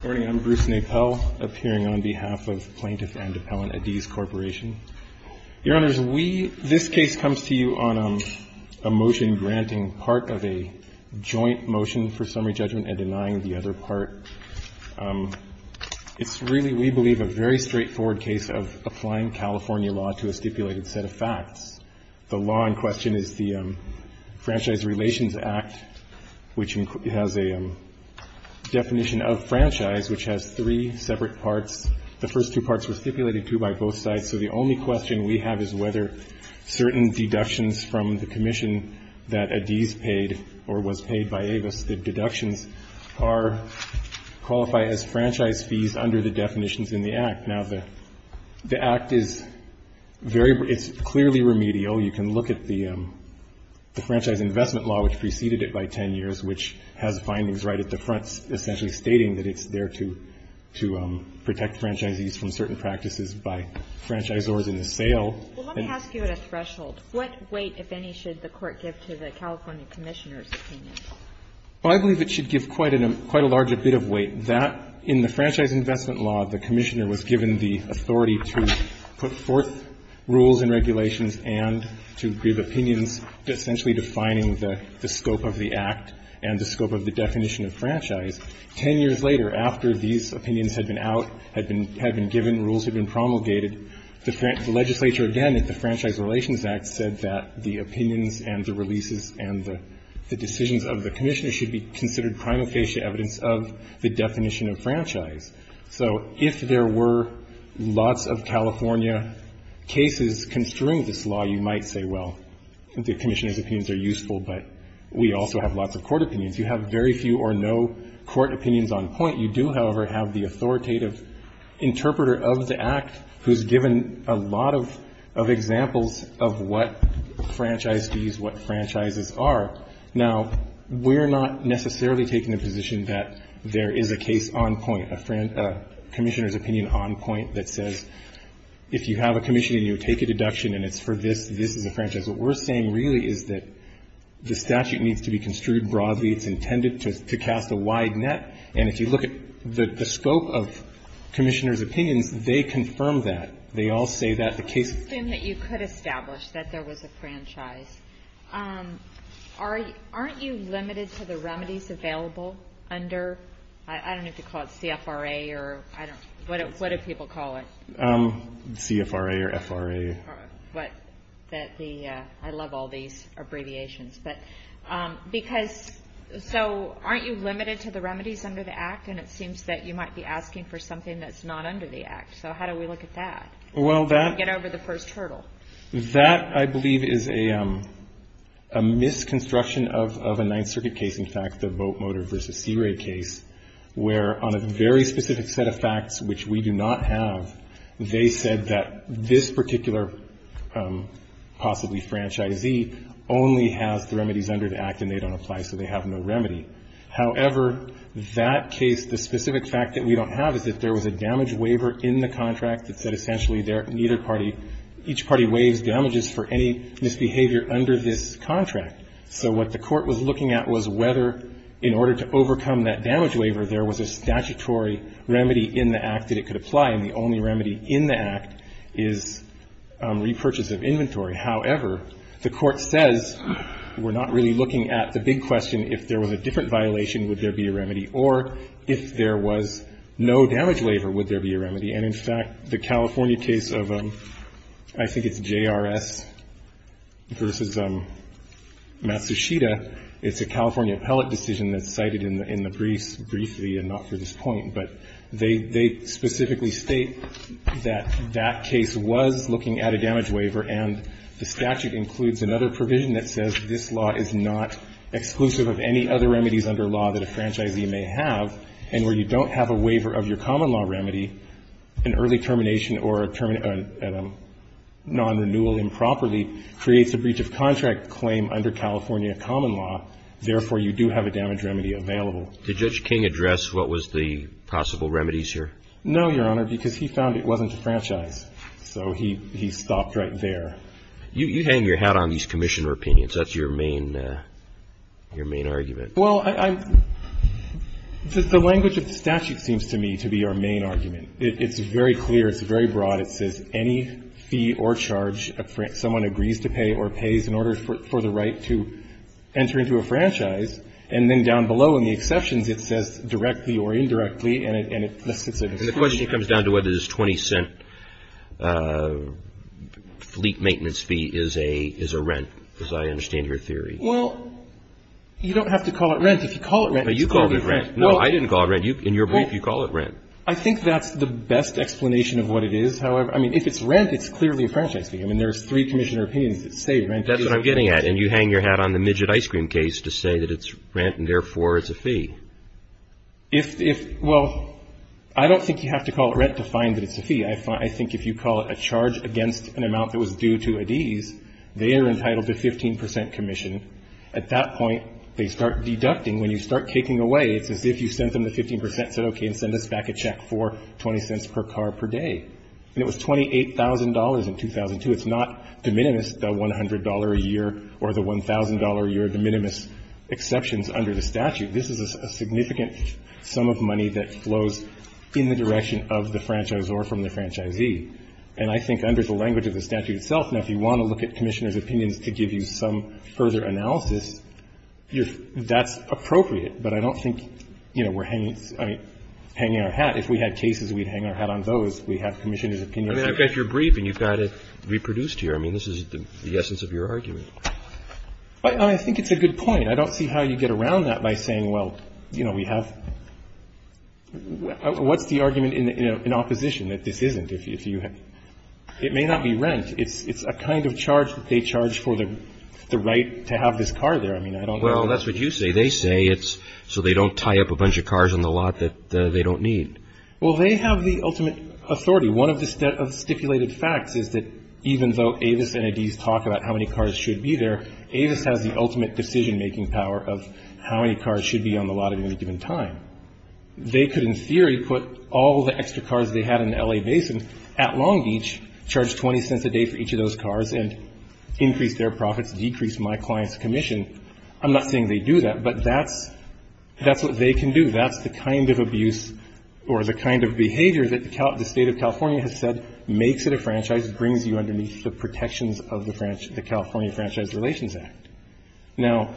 Good morning, I'm Bruce Napel, appearing on behalf of Plaintiff and Appellant Ades Corporation. Your Honors, we, this case comes to you on a motion granting part of a joint motion for summary judgment and denying the other part. It's really, we believe, a very straightforward case of applying California law to a stipulated set of facts. The law in question is the Franchise Relations Act, which has a definition of franchise, which has three separate parts. The first two parts were stipulated, too, by both sides. So the only question we have is whether certain deductions from the commission that Ades paid or was paid by Avis, the deductions qualify as franchise fees under the definitions in the Act. Now, the Act is very, it's clearly remedial. You can look at the Franchise Investment Law, which preceded it by 10 years, which has findings right at the front, essentially stating that it's there to protect franchisees from certain practices by franchisors in the sale. Well, let me ask you at a threshold. What weight, if any, should the Court give to the California Commissioner's opinion? Well, I believe it should give quite a large bit of weight. That, in the Franchise Investment Law, the Commissioner was given the authority to put forth rules and regulations and to give opinions essentially defining the scope of the Act and the scope of the definition of franchise. Ten years later, after these opinions had been out, had been given, rules had been promulgated, the legislature, again, at the Franchise Relations Act, said that the opinions and the releases and the decisions of the Commissioner should be considered prima facie evidence of the definition of franchise. So if there were lots of California cases construing this law, you might say, well, the Commissioner's opinions are useful, but we also have lots of court opinions. You have very few or no court opinions on point. You do, however, have the authoritative interpreter of the Act, who's given a lot of examples of what franchisees, what franchises are. Now, we're not necessarily taking the position that there is a case on point, a Commissioner's opinion on point that says if you have a commission and you take a deduction and it's for this, this is a franchise. What we're saying really is that the statute needs to be construed broadly. It's intended to cast a wide net. And if you look at the scope of Commissioner's opinions, they confirm that. They all say that the case of the- The question that you could establish, that there was a franchise, aren't you limited to the remedies available under, I don't know if you call it CFRA or I don't, what do people call it? CFRA or FRA. What? That the, I love all these abbreviations. But because, so aren't you limited to the remedies under the Act? And it seems that you might be asking for something that's not under the Act. So how do we look at that? Get over the first hurdle. That, I believe, is a misconstruction of a Ninth Circuit case. In fact, the boat motor versus CRA case, where on a very specific set of facts, which we do not have, they said that this particular possibly franchisee only has the remedies under the Act and they don't apply, so they have no remedy. However, that case, the specific fact that we don't have is that there was a damage waiver in the contract that said essentially neither party, each party waives damages for any misbehavior under this contract. So what the Court was looking at was whether, in order to overcome that damage waiver, there was a statutory remedy in the Act that it could apply, and the only remedy in the Act is repurchase of inventory. However, the Court says we're not really looking at the big question, if there was a different violation, would there be a remedy? Or if there was no damage waiver, would there be a remedy? And, in fact, the California case of, I think it's JRS versus Matsushita, it's a California appellate decision that's cited in the briefs, briefly and not for this point, but they specifically state that that case was looking at a damage waiver and the statute includes another provision that says this law is not exclusive of any other remedies under law that a franchisee may have, and where you don't have a waiver of your common law remedy, an early termination or a non-renewal improperly creates a breach of contract claim under California common law. Therefore, you do have a damage remedy available. Did Judge King address what was the possible remedies here? No, Your Honor, because he found it wasn't a franchise. So he stopped right there. You hang your hat on these Commissioner opinions. That's your main argument. Well, I — the language of the statute seems to me to be our main argument. It's very clear. It's very broad. It says any fee or charge someone agrees to pay or pays in order for the right to enter into a franchise, and then down below in the exceptions, it says directly or indirectly, and it lists it as a franchise. And the question comes down to whether this 20-cent fleet maintenance fee is a rent, as I understand your theory. Well, you don't have to call it rent. If you call it rent, it's called rent. No, I didn't call it rent. In your brief, you call it rent. I think that's the best explanation of what it is. However, I mean, if it's rent, it's clearly a franchise fee. I mean, there's three Commissioner opinions that say rent is a fee. That's what I'm getting at. And you hang your hat on the midget ice cream case to say that it's rent and therefore it's a fee. If — well, I don't think you have to call it rent to find that it's a fee. I think if you call it a charge against an amount that was due to a D's, they are entitled to 15 percent commission. At that point, they start deducting. And when you start taking away, it's as if you sent them the 15 percent, said, okay, and send us back a check for 20 cents per car per day. And it was $28,000 in 2002. It's not de minimis, the $100 a year or the $1,000 a year de minimis exceptions under the statute. This is a significant sum of money that flows in the direction of the franchisor from the franchisee. And I think under the language of the statute itself, now, if you want to look at Commissioner's opinions to give you some further analysis, you're — that's appropriate. But I don't think, you know, we're hanging — I mean, hanging our hat. If we had cases, we'd hang our hat on those. We have Commissioner's opinions. Roberts. I mean, I guess you're brief and you've got it reproduced here. I mean, this is the essence of your argument. I think it's a good point. I don't see how you get around that by saying, well, you know, we have — what's the argument in opposition that this isn't? If you — it may not be rent. It's a kind of charge that they charge for the right to have this car there. I mean, I don't know. Well, that's what you say. They say it's so they don't tie up a bunch of cars on the lot that they don't need. Well, they have the ultimate authority. One of the stipulated facts is that even though Avis and ADs talk about how many cars should be there, Avis has the ultimate decision-making power of how many cars should be on the lot at any given time. They could, in theory, put all the extra cars they had in L.A. Basin at Long Beach, charge 20 cents a day for each of those cars and increase their profits, decrease my client's commission. I'm not saying they do that, but that's — that's what they can do. That's the kind of abuse or the kind of behavior that the State of California has said makes it a franchise, brings you underneath the protections of the California Franchise Relations Act. Now,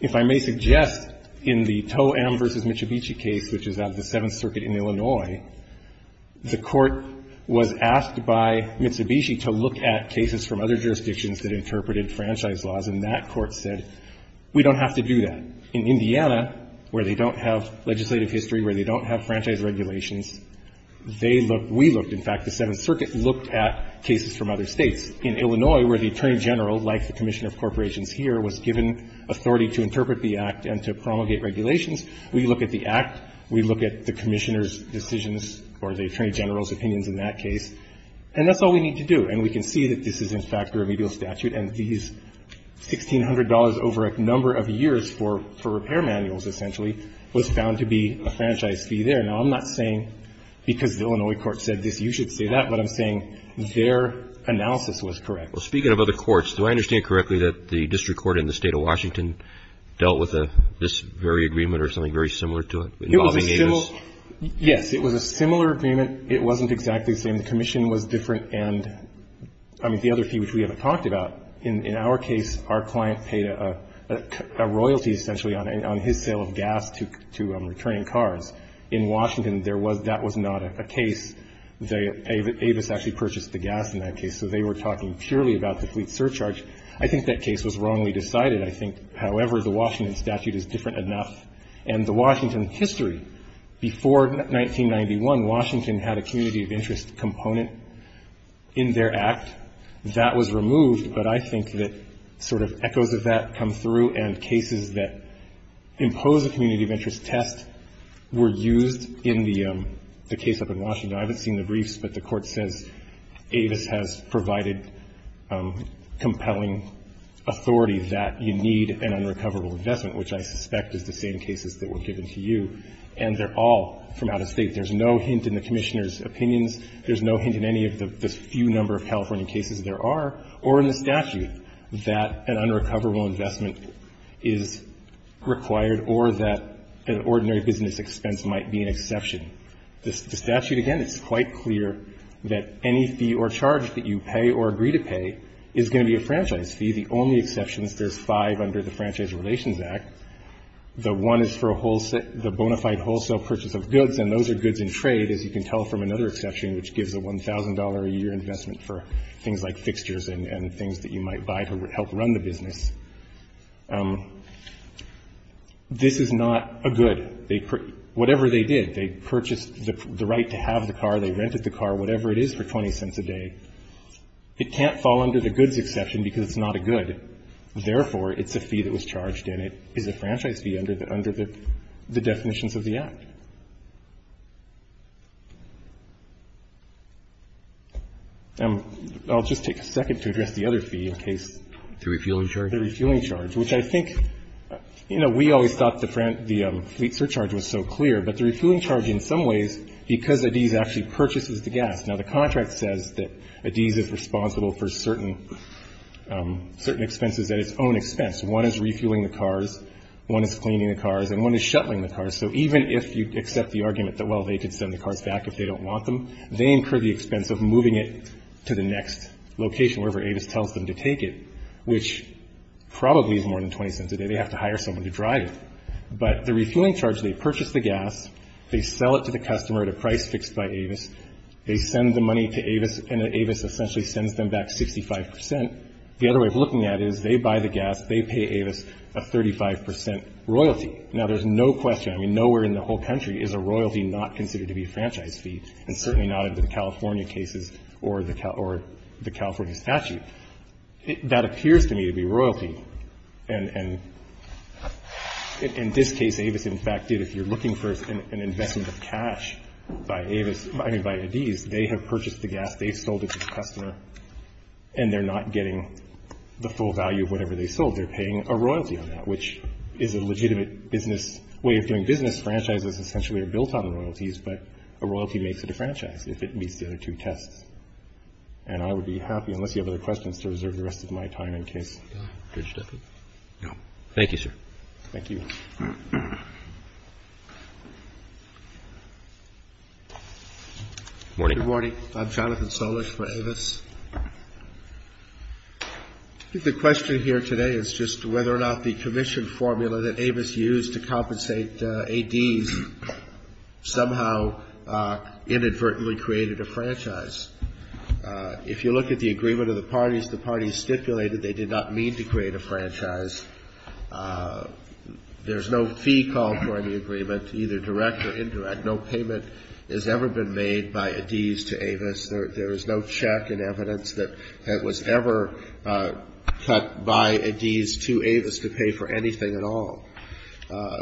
if I may suggest, in the To'em v. Mitsubishi case, which is out of the Seventh Circuit in Illinois, the court was asked by Mitsubishi to look at cases from other jurisdictions that interpreted franchise laws, and that court said, we don't have to do that. In Indiana, where they don't have legislative history, where they don't have franchise regulations, they looked — we looked, in fact, the Seventh Circuit looked at cases from other states. In Illinois, where the Attorney General, like the Commissioner of Corporations here, was given authority to interpret the Act and to promulgate regulations, we look at the Act, we look at the Commissioner's decisions or the Attorney General's opinions in that case, and that's all we need to do. And we can see that this is, in fact, a remedial statute, and these $1,600 over a number of years for — for repair manuals, essentially, was found to be a franchise fee there. Now, I'm not saying because the Illinois court said this, you should say that. But I'm saying their analysis was correct. Well, speaking of other courts, do I understand correctly that the district court in the State of Washington dealt with this very agreement or something very similar to it involving Amos? It was a similar — yes, it was a similar agreement. It wasn't exactly the same. The commission was different, and — I mean, the other fee, which we haven't talked about. In our case, our client paid a royalty, essentially, on his sale of gas to returning cars. In Washington, there was — that was not a case. Avis actually purchased the gas in that case, so they were talking purely about the fleet surcharge. I think that case was wrongly decided. I think, however, the Washington statute is different enough. And the Washington history, before 1991, Washington had a community of interest component in their Act. That was removed, but I think that sort of echoes of that come through, and cases that impose a community of interest test were used in the case up in Washington. I haven't seen the briefs, but the Court says Avis has provided compelling authority that you need an unrecoverable investment, which I suspect is the same cases that were given to you. And they're all from out of State. There's no hint in the Commissioner's opinions. There's no hint in any of the few number of California cases there are, or in the statute, that an unrecoverable investment is required or that an ordinary business expense might be an exception. The statute, again, it's quite clear that any fee or charge that you pay or agree to pay is going to be a franchise fee. The only exception is there's five under the Franchise Relations Act. The one is for the bona fide wholesale purchase of goods, and those are goods in trade, as you can tell from another exception, which gives a $1,000-a-year investment for things like fixtures and things that you might buy to help run the business. This is not a good. Whatever they did, they purchased the right to have the car, they rented the car, whatever it is for 20 cents a day. It can't fall under the goods exception because it's not a good. Therefore, it's a fee that was charged, and it is a franchise fee under the definitions of the Act. I'll just take a second to address the other fee in case. The refueling charge? The refueling charge, which I think, you know, we always thought the fleet surcharge was so clear, but the refueling charge in some ways, because Adiz actually purchases the gas. Now, the contract says that Adiz is responsible for certain expenses at its own expense. One is refueling the cars, one is cleaning the cars, and one is shuttling the cars. So even if you accept the argument that, well, they could send the cars back if they don't want them, they incur the expense of moving it to the next location wherever Avis tells them to take it, which probably is more than 20 cents a day. They have to hire someone to drive it. But the refueling charge, they purchase the gas, they sell it to the customer at a price fixed by Avis, they send the money to Avis, and Avis essentially sends them back 65 percent. The other way of looking at it is they buy the gas, they pay Avis a 35 percent royalty. Now, there's no question, I mean, nowhere in the whole country is a royalty not considered to be a franchise fee, and certainly not under the California cases or the California statute. That appears to me to be royalty. And in this case, Avis, in fact, did. If you're looking for an investment of cash by Avis, I mean by Adiz, they have purchased the gas, they've sold it to the customer, and they're not getting the full value of whatever they sold. They're paying a royalty on that, which is a legitimate business way of doing business. Franchises essentially are built on royalties, but a royalty makes it a franchise if it meets the other two tests. And I would be happy, unless you have other questions, to reserve the rest of my time in case. Thank you, sir. Thank you. Good morning. Good morning. I'm Jonathan Solish for Avis. I think the question here today is just whether or not the commission formula that Avis used to compensate Adiz somehow inadvertently created a franchise. If you look at the agreement of the parties, the parties stipulated they did not mean to create a franchise. There's no fee called for in the agreement, either direct or indirect. No payment has ever been made by Adiz to Avis. There is no check in evidence that was ever cut by Adiz to Avis to pay for anything at all.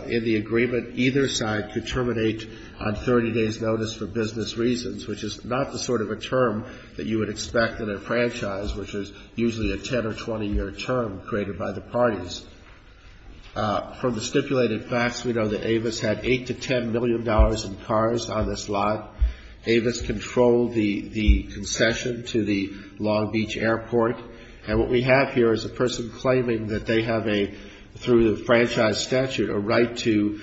In the agreement, either side could terminate on 30 days' notice for business reasons, which is not the sort of a term that you would expect in a franchise, which is usually a 10- or 20-year term created by the parties. From the stipulated facts, we know that Avis had $8 million to $10 million in cars on this lot. Avis controlled the concession to the Long Beach airport. And what we have here is a person claiming that they have a, through the franchise statute, a right to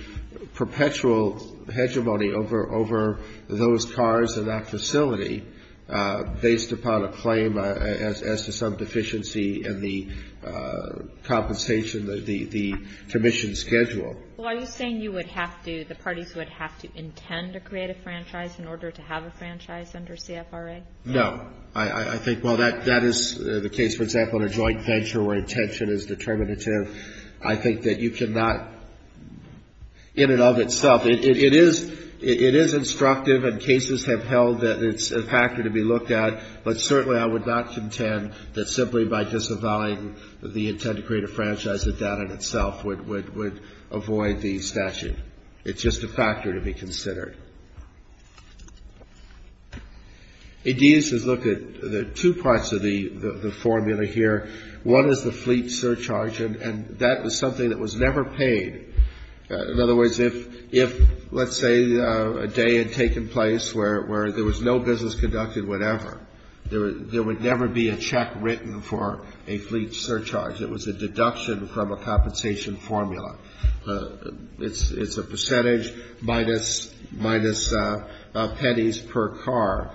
perpetual hegemony over those cars in that facility, based upon a claim as to some deficiency in the compensation, the commission schedule. Well, are you saying you would have to, the parties would have to intend to create a franchise in order to have a franchise under CFRA? No. I think while that is the case, for example, in a joint venture where intention is determinative, I think that you cannot, in and of itself, it is instructive, and cases have held that it's a factor to be looked at, but certainly I would not contend that simply by disavowing the intent to create a franchise, that that in itself would avoid the statute. It's just a factor to be considered. Adidas has looked at two parts of the formula here. One is the fleet surcharge, and that was something that was never paid. In other words, if, let's say, a day had taken place where there was no business conducted whatever, there would never be a check written for a fleet surcharge. It was a deduction from a compensation formula. It's a percentage minus pennies per car,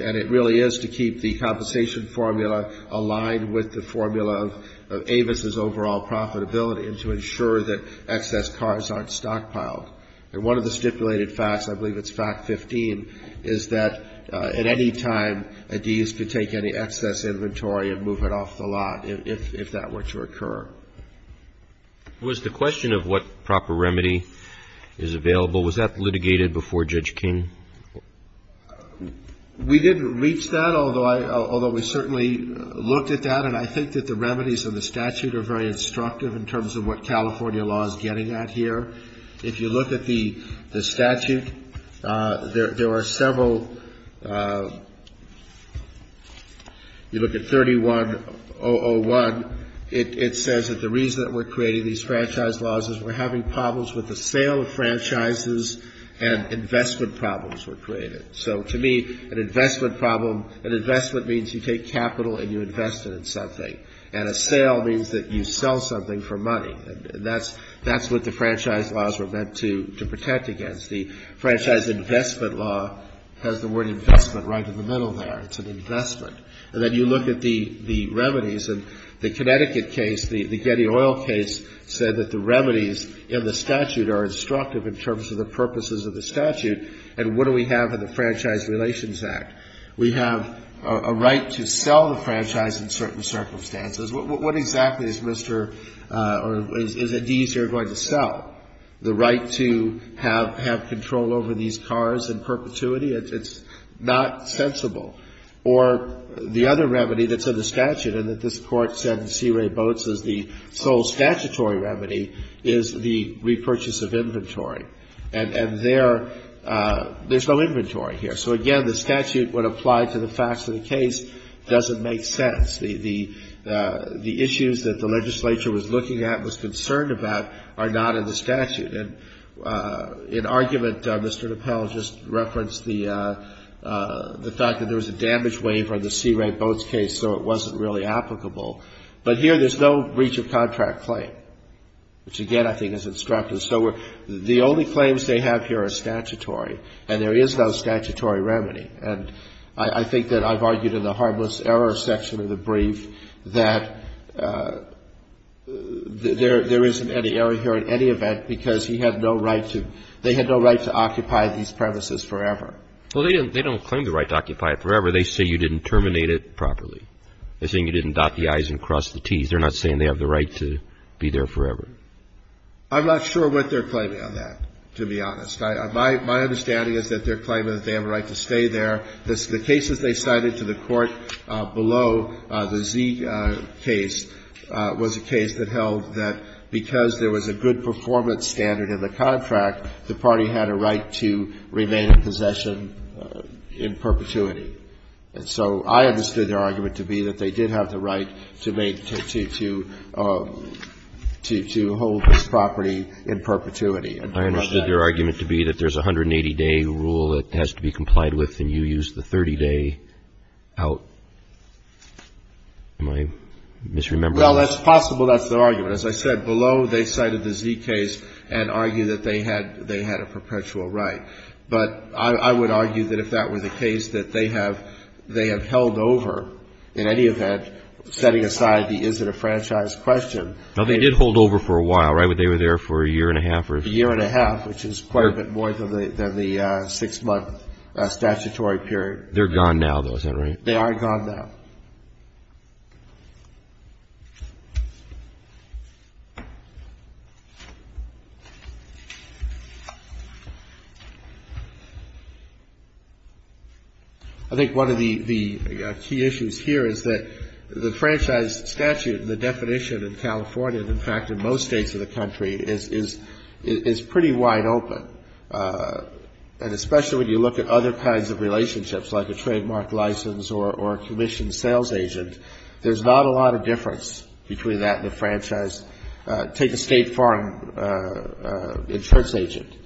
and it really is to keep the compensation formula aligned with the formula of Avis's overall profitability and to ensure that excess cars aren't stockpiled. And one of the stipulated facts, I believe it's fact 15, is that at any time Adidas could take any excess inventory and move it off the lot if that were to occur. Was the question of what proper remedy is available, was that litigated before Judge King? We didn't reach that, although we certainly looked at that, and I think that the remedies in the statute are very instructive in terms of what California law is getting at here. If you look at the statute, there are several. You look at 31001. It says that the reason that we're creating these franchise laws is we're having problems with the sale of franchises and investment problems were created. So to me, an investment problem, an investment means you take capital and you invest it in something, and a sale means that you sell something for money, and that's what the franchise laws were meant to protect against. The franchise investment law has the word investment right in the middle there. It's an investment. And then you look at the remedies, and the Connecticut case, the Getty Oil case, said that the remedies in the statute are instructive in terms of the purposes of the statute, and what do we have in the Franchise Relations Act? We have a right to sell the franchise in certain circumstances. What exactly is Mr. or is it easier going to sell? The right to have control over these cars in perpetuity? It's not sensible. Or the other remedy that's in the statute and that this Court said in C. Ray Boats is the sole statutory remedy is the repurchase of inventory. And there's no inventory here. So, again, the statute would apply to the facts of the case. It doesn't make sense. The issues that the legislature was looking at and was concerned about are not in the statute. In argument, Mr. Napel just referenced the fact that there was a damage waiver in the C. Ray Boats case, so it wasn't really applicable. But here there's no breach of contract claim, which, again, I think is instructive. So the only claims they have here are statutory, and there is no statutory remedy. And I think that I've argued in the harmless error section of the brief that there isn't any error here in any event because he had no right to they had no right to occupy these premises forever. Well, they don't claim the right to occupy it forever. They say you didn't terminate it properly. They're saying you didn't dot the I's and cross the T's. They're not saying they have the right to be there forever. I'm not sure what they're claiming on that, to be honest. My understanding is that they're claiming that they have a right to stay there. The cases they cited to the Court below, the Z case, was a case that held that because there was a good performance standard in the contract, the party had a right to remain in possession in perpetuity. And so I understood their argument to be that they did have the right to make to hold this property in perpetuity. I understood their argument to be that there's a 180-day rule that has to be complied with and you use the 30-day out. Am I misremembering? Well, that's possible. That's their argument. As I said, below they cited the Z case and argued that they had a perpetual right. But I would argue that if that were the case, that they have held over, in any event, setting aside the is-it-a-franchise question. No, they did hold over for a while, right? They were there for a year and a half? A year and a half, which is quite a bit more than the six-month statutory period. They're gone now, though, is that right? They are gone now. I think one of the key issues here is that the franchise statute and the definition in California, and, in fact, in most states of the country, is pretty wide open. And especially when you look at other kinds of relationships, like a trademark license or a commissioned sales agent, there's not a lot of difference between that and a franchise. Take a State Farm insurance agent.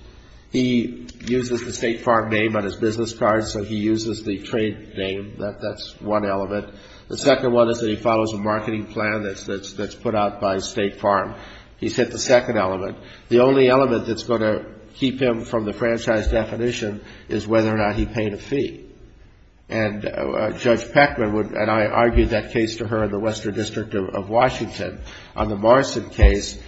He uses the State Farm name on his business card, so he uses the trade name. That's one element. The second one is that he follows a marketing plan that's put out by State Farm. He's hit the second element. The only element that's going to keep him from the franchise definition is whether or not he paid a fee. And Judge Peckman would, and I argued that case to her in the Western District of Washington, on the Morrison case.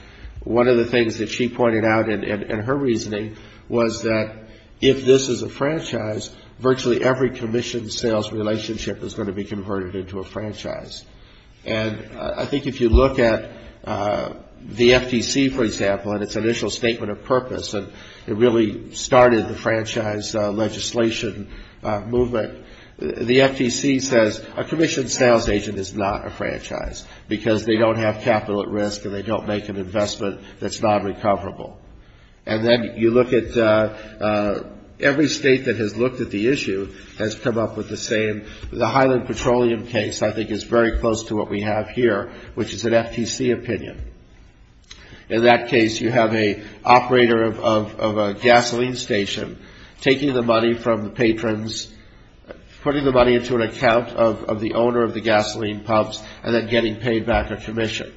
One of the things that she pointed out in her reasoning was that if this is a franchise, virtually every commissioned sales relationship is going to be converted into a franchise. And I think if you look at the FTC, for example, and its initial statement of purpose, and it really started the franchise legislation movement, the FTC says a commissioned sales agent is not a franchise because they don't have capital at risk and they don't make an investment that's not recoverable. And then you look at every State that has looked at the issue has come up with the same. The Highland Petroleum case, I think, is very close to what we have here, which is an FTC opinion. In that case, you have an operator of a gasoline station taking the money from the patrons, putting the money into an account of the owner of the gasoline pumps, and then getting paid back a commission.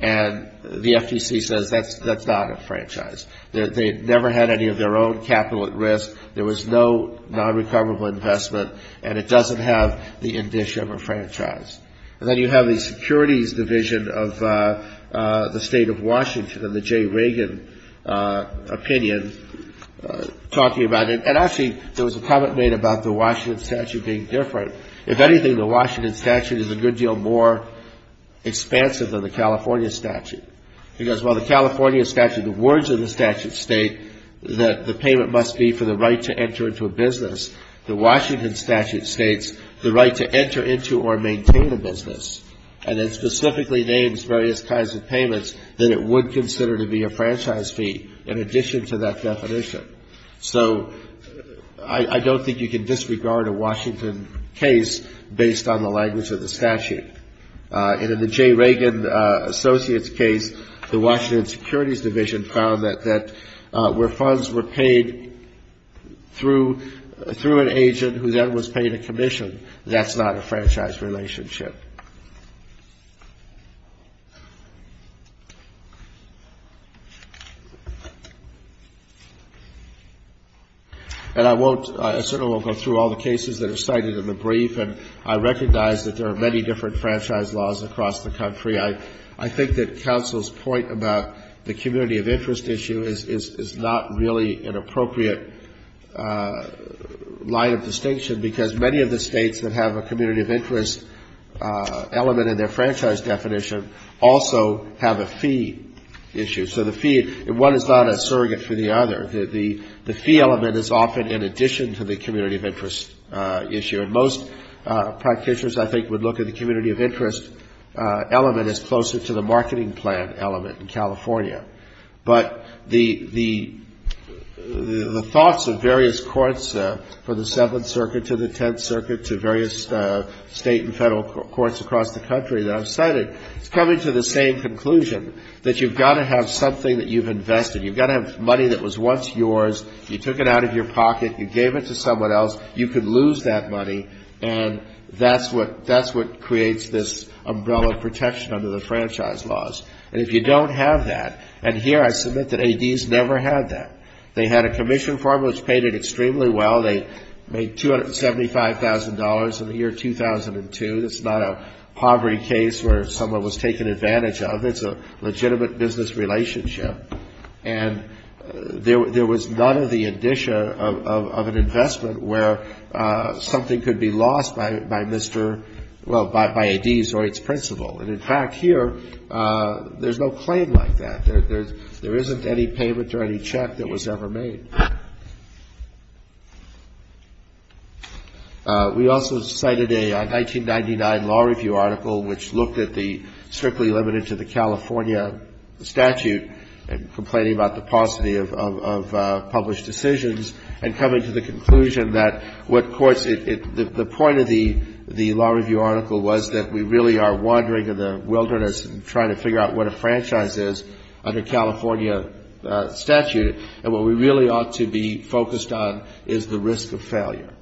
And the FTC says that's not a franchise. They never had any of their own capital at risk. There was no non-recoverable investment, and it doesn't have the indicia of a franchise. And then you have the Securities Division of the State of Washington and the J. Reagan opinion talking about it. And actually, there was a comment made about the Washington statute being different. If anything, the Washington statute is a good deal more expansive than the California statute. Because while the California statute, the words of the statute state that the payment must be for the right to enter into a business, the Washington statute states the right to enter into or maintain a business. And it specifically names various kinds of payments that it would consider to be a franchise fee in addition to that definition. So I don't think you can disregard a Washington case based on the language of the statute. And in the J. Reagan Associates case, the Washington Securities Division found that where funds were paid through an agent who then was paid a commission, that's not a franchise relationship. And I won't go through all the cases that are cited in the brief, and I recognize that there are many different franchise laws across the country. I think that counsel's point about the community of interest issue is not really an appropriate line of distinction because many of the states that have a community of interest element in their franchise definition also have a fee issue. So the fee, one is not a surrogate for the other. The fee element is often in addition to the community of interest issue. And most practitioners, I think, would look at the community of interest element as closer to the marketing plan element in California. But the thoughts of various courts for the Seventh Circuit to the Tenth Circuit to various state and federal courts across the country that I've cited, it's coming to the same conclusion, that you've got to have something that you've invested. You've got to have money that was once yours. You took it out of your pocket. You gave it to someone else. You could lose that money, and that's what creates this umbrella protection under the franchise laws. And if you don't have that, and here I submit that ADs never had that. They had a commission form which paid it extremely well. They made $275,000 in the year 2002. That's not a poverty case where someone was taken advantage of. It's a legitimate business relationship. And there was none of the indicia of an investment where something could be lost by Mr. Well, by ADs or its principal. And in fact, here, there's no claim like that. There isn't any payment or any check that was ever made. We also cited a 1999 law review article which looked at the strictly limited to the California statute and complaining about the paucity of published decisions and coming to the conclusion that what courts, the point of the law review article was that we really are wandering in the wilderness and trying to figure out what a franchise is under California statute. And what we really ought to be focused on is the risk of failure.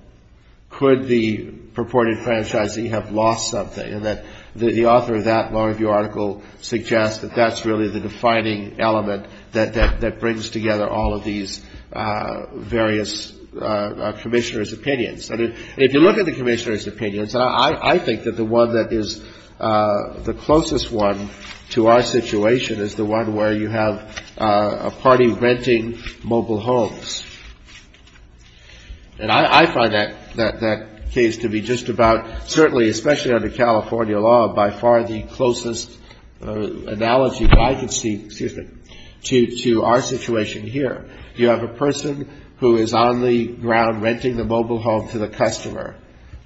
Could the purported franchisee have lost something? And the author of that law review article suggests that that's really the defining element that brings together all of these various commissioners' opinions. And if you look at the commissioners' opinions, I think that the one that is the closest one to our situation is the one where you have a party renting mobile homes. And I find that case to be just about, certainly, especially under California law, by far the closest analogy that I can see to our situation here. You have a person who is on the ground renting the mobile home to the customer.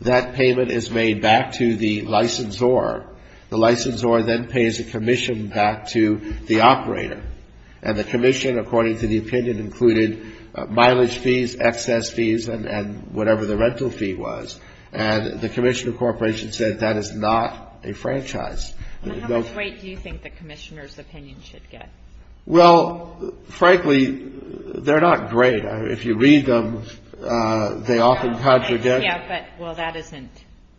That payment is made back to the licensor. The licensor then pays a commission back to the operator. And the commission, according to the opinion, included mileage fees, excess fees, and whatever the rental fee was. And the commissioner corporation said that is not a franchise. And how much weight do you think the commissioners' opinions should get? Well, frankly, they're not great. If you read them, they often conjugate. Yeah, but, well, that isn't,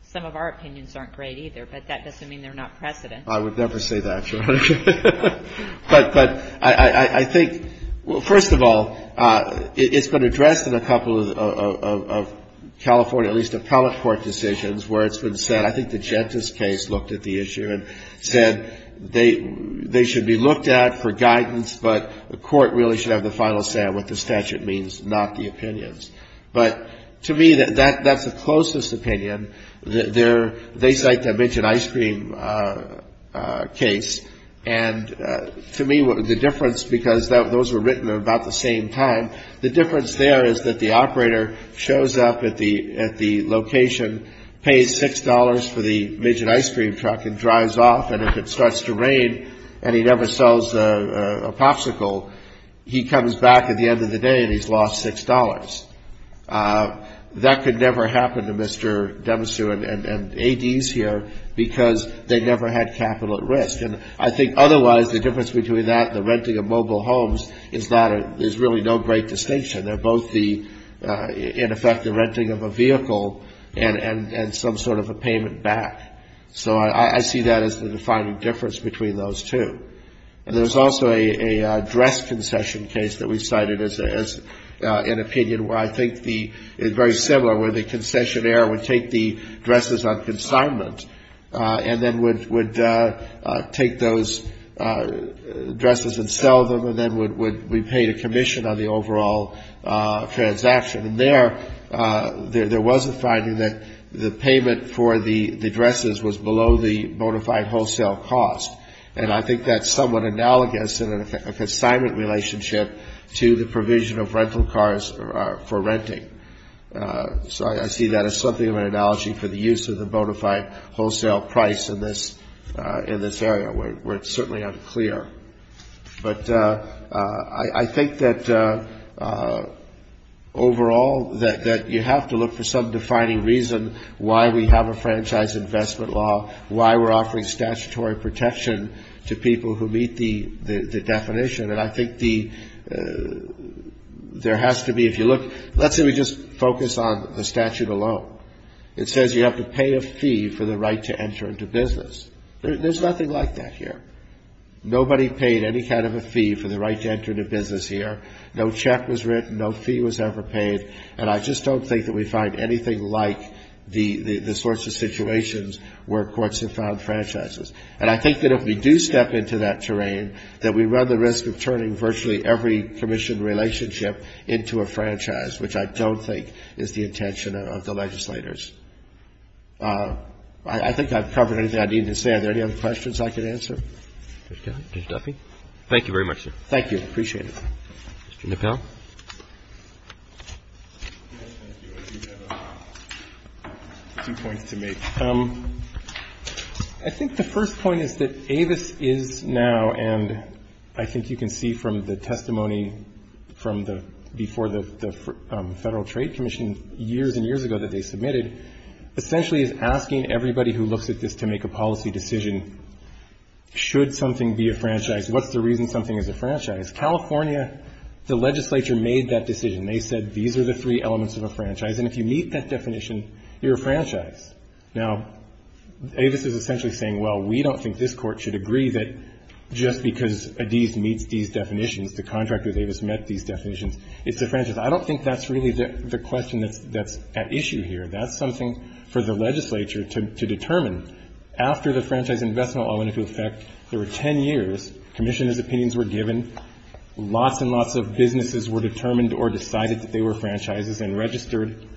some of our opinions aren't great either, but that doesn't mean they're not precedent. I would never say that, Your Honor. But I think, well, first of all, it's been addressed in a couple of California, at least, appellate court decisions where it's been said, I think the Gentis case looked at the issue and said they should be looked at for guidance, but the court really should have the final say on what the statute means, not the opinions. But to me, that's the closest opinion. They cite the minted ice cream case. And to me, the difference, because those were written at about the same time, the difference there is that the operator shows up at the location, pays $6 for the minted ice cream truck and drives off, and if it starts to rain and he never sells a Popsicle, he comes back at the end of the day and he's lost $6. That could never happen to Mr. Demisew and ADs here because they never had capital at risk. And I think otherwise, the difference between that and the renting of mobile homes is that there's really no great distinction. They're both the, in effect, the renting of a vehicle and some sort of a payment back. So I see that as the defining difference between those two. And there's also a dress concession case that we cited as an opinion where I think the very similar, where the concessionaire would take the dresses on consignment and then would take those, you know, the dress on consignment and then take those dresses and sell them and then would be paid a commission on the overall transaction. And there, there was a finding that the payment for the dresses was below the bona fide wholesale cost. And I think that's somewhat analogous in an assignment relationship to the provision of rental cars for renting. So I see that as something of an analogy for the use of the bona fide wholesale price in this area. Where it's certainly unclear. But I think that overall, that you have to look for some defining reason why we have a franchise investment law, why we're offering statutory protection to people who meet the definition. And I think the, there has to be, if you look, let's say we just focus on the statute alone. It says you have to pay a fee for the right to enter into business. There's nothing like that here. Nobody paid any kind of a fee for the right to enter into business here. No check was written. No fee was ever paid. And I just don't think that we find anything like the sorts of situations where courts have found franchises. And I think that if we do step into that terrain, that we run the risk of turning virtually every commission relationship into a franchise, which I don't think is the intention of the case. Thank you very much, sir. Thank you. Appreciate it. Mr. Nippell. I do have a few points to make. I think the first point is that Avis is now, and I think you can see from the testimony from the, before the Federal Trade Commission years and years ago that they submitted, essentially is asking everybody who looks at this to make a policy decision. Should something be a franchise? What's the reason something is a franchise? California, the legislature made that decision. They said, these are the three elements of a franchise. And if you meet that definition, you're a franchise. Now, Avis is essentially saying, well, we don't think this Court should agree that just because Adiz meets these definitions, the contract with Avis met these definitions, it's a franchise. I don't think that's really the question that's at issue here. That's something for the legislature to determine. After the franchise investment law went into effect, there were ten years, commissioners' opinions were given, lots and lots of businesses were determined or decided that they were franchises and registered,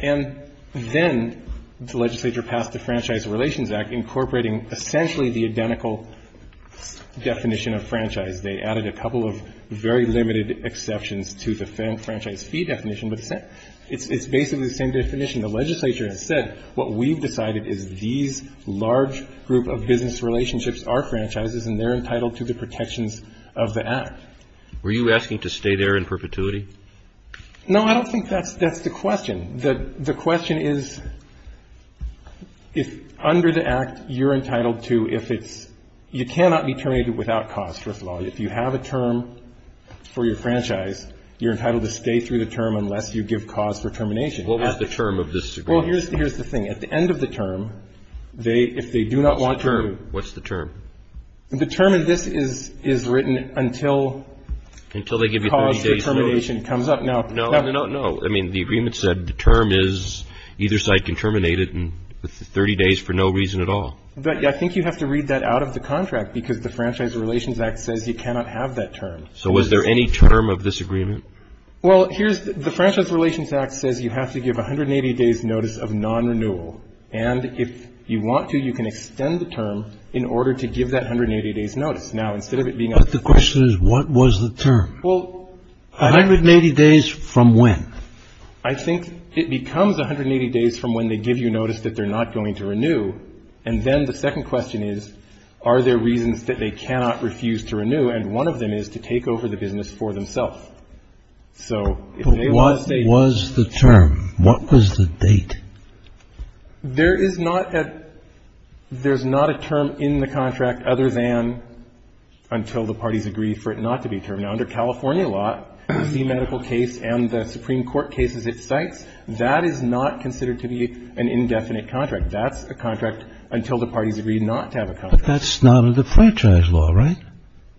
and then the legislature passed the Franchise Relations Act incorporating essentially the identical definition of franchise. They added a couple of very limited exceptions to the franchise fee definition, but it's basically the same definition. The legislature has said, what we've decided is these large group of business relationships are franchises, and they're entitled to the protections of the Act. Were you asking to stay there in perpetuity? No, I don't think that's the question. The question is, if under the Act, you're entitled to, if it's, you cannot be terminated without cause, first of all. If you have a term for your franchise, you're entitled to stay through the term unless you give cause for termination. What was the term of this agreement? Well, here's the thing. At the end of the term, if they do not want to... What's the term? The term of this is written until... Until they give you 30 days? ...cause for termination comes up. No. No, no, no. I mean, the agreement said the term is either side can terminate it in 30 days for no reason at all. But I think you have to read that out of the contract because the Franchise Relations Act says you cannot have that term. So was there any term of this agreement? Well, here's... The Franchise Relations Act says you have to give 180 days notice of non-renewal. And if you want to, you can extend the term in order to give that 180 days notice. Now, instead of it being... But the question is, what was the term? Well... 180 days from when? I think it becomes 180 days from when they give you notice that they're not going to renew. And then the second question is, are there reasons that they cannot refuse to renew? And one of them is to take over the business for themselves. So if they want to stay... But what was the term? What was the date? There is not a... There's not a term in the contract other than until the parties agree for it not to be termed. Now, under California law, the medical case and the Supreme Court cases it cites, that is not considered to be an indefinite contract. That's a contract until the parties agree not to have a contract. But that's not under the franchise law, right?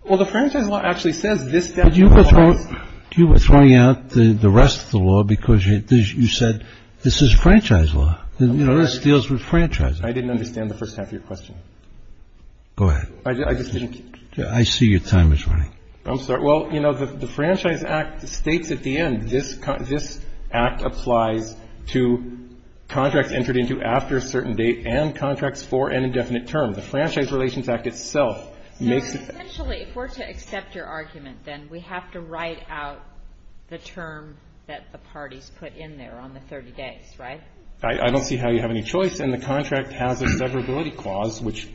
Well, the franchise law actually says this... But you were throwing out the rest of the law because you said this is franchise law. You know, this deals with franchises. I didn't understand the first half of your question. Go ahead. I just didn't... I see your time is running. I'm sorry. Well, you know, the Franchise Act states at the end, this act applies to contracts entered into after a certain date and contracts for an indefinite term. The Franchise Relations Act itself makes... So essentially, if we're to accept your argument, then we have to write out the term that the parties put in there on the 30 days, right? I don't see how you have any choice. And the contract has a severability clause, which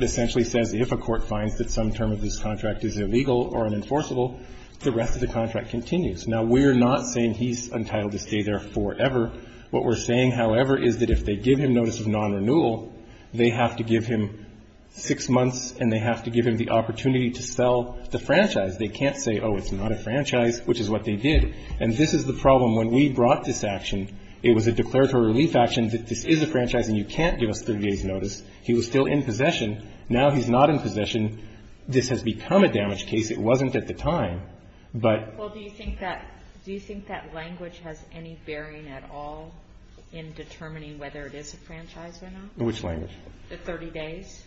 essentially says if a court finds that some term of this contract is illegal or unenforceable, the rest of the contract continues. Now, we're not saying he's entitled to stay there forever. What we're saying, however, is that if they give him notice of non-renewal, they have to give him six months and they have to give him the opportunity to sell the franchise. They can't say, oh, it's not a franchise, which is what they did. And this is the problem. When we brought this action, it was a declaratory relief action that this is a franchise and you can't give us 30 days' notice. He was still in possession. Now he's not in possession. This has become a damage case. It wasn't at the time. But... Well, do you think that language has any bearing at all in determining whether it is a franchise or not? Which language? The 30 days?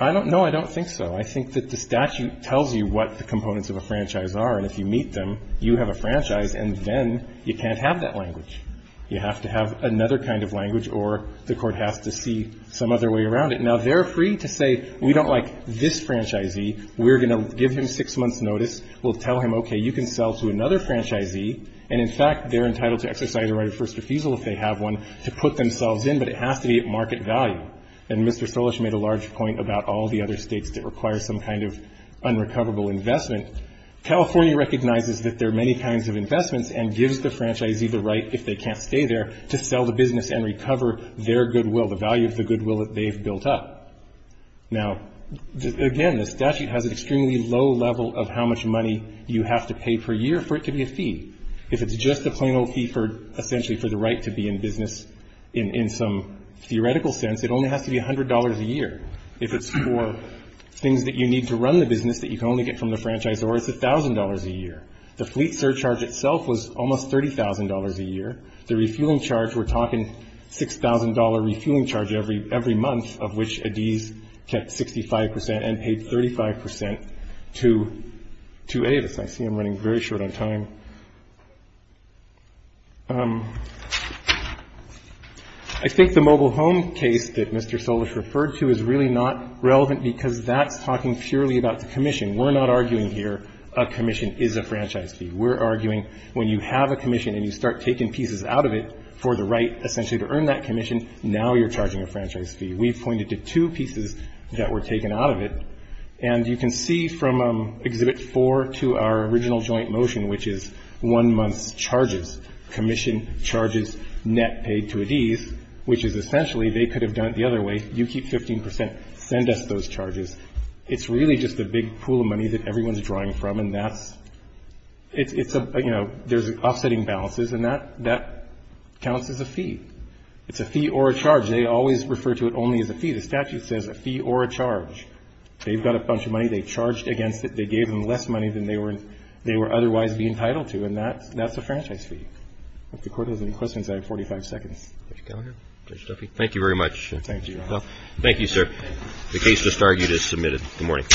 I don't know. I don't think so. I think that the statute tells you what the components of a franchise are. And if you meet them, you have a franchise, and then you can't have that language. You have to have another kind of language or the court has to see some other way around it. Now, they're free to say we don't like this franchisee. We're going to give him six months' notice. We'll tell him, okay, you can sell to another franchisee. And, in fact, they're entitled to exercise a right of first refusal if they have one to put themselves in. But it has to be at the time. And Mr. Solish made a large point about all the other states that require some kind of unrecoverable investment. California recognizes that there are many kinds of investments and gives the franchisee the right, if they can't stay there, to sell the business and recover their goodwill, the value of the goodwill that they've built up. Now, again, the statute has an extremely low level of how much money you have to pay per year for it to be a fee. If it's just a plain old fee for essentially for the right to be in business, in some theoretical sense, it only has to be $100 a year. If it's for things that you need to run the business that you can only get from the franchise, or it's $1,000 a year. The fleet surcharge itself was almost $30,000 a year. The refueling charge, we're talking $6,000 refueling charge every month, of which Adiz kept 65% and paid 35% to Avis. I see I'm running very short on time. I think the mobile home case that Mr. Solish referred to is really not relevant because that's talking purely about the commission. We're not arguing here a commission is a franchise fee. We're arguing when you have a commission and you start taking pieces out of it for the right, essentially, to earn that commission, now you're charging a franchise fee. We've pointed to two pieces that were taken out of it, and you can see from Exhibit 4 to our original joint motion, which is one month's charges, commission charges net paid to Adiz, and then Adiz, which is essentially, they could have done it the other way. You keep 15%, send us those charges. It's really just a big pool of money that everyone's drawing from, and that's, it's a, you know, there's offsetting balances, and that counts as a fee. It's a fee or a charge. They always refer to it only as a fee. The statute says a fee or a charge. They've got a bunch of money. They charged against it. They gave them less money than they were otherwise being entitled to, and that's a franchise fee. If the Court has any questions, I have 45 seconds. Thank you very much. Thank you, Your Honor. Thank you, sir. The case is submitted. Good morning.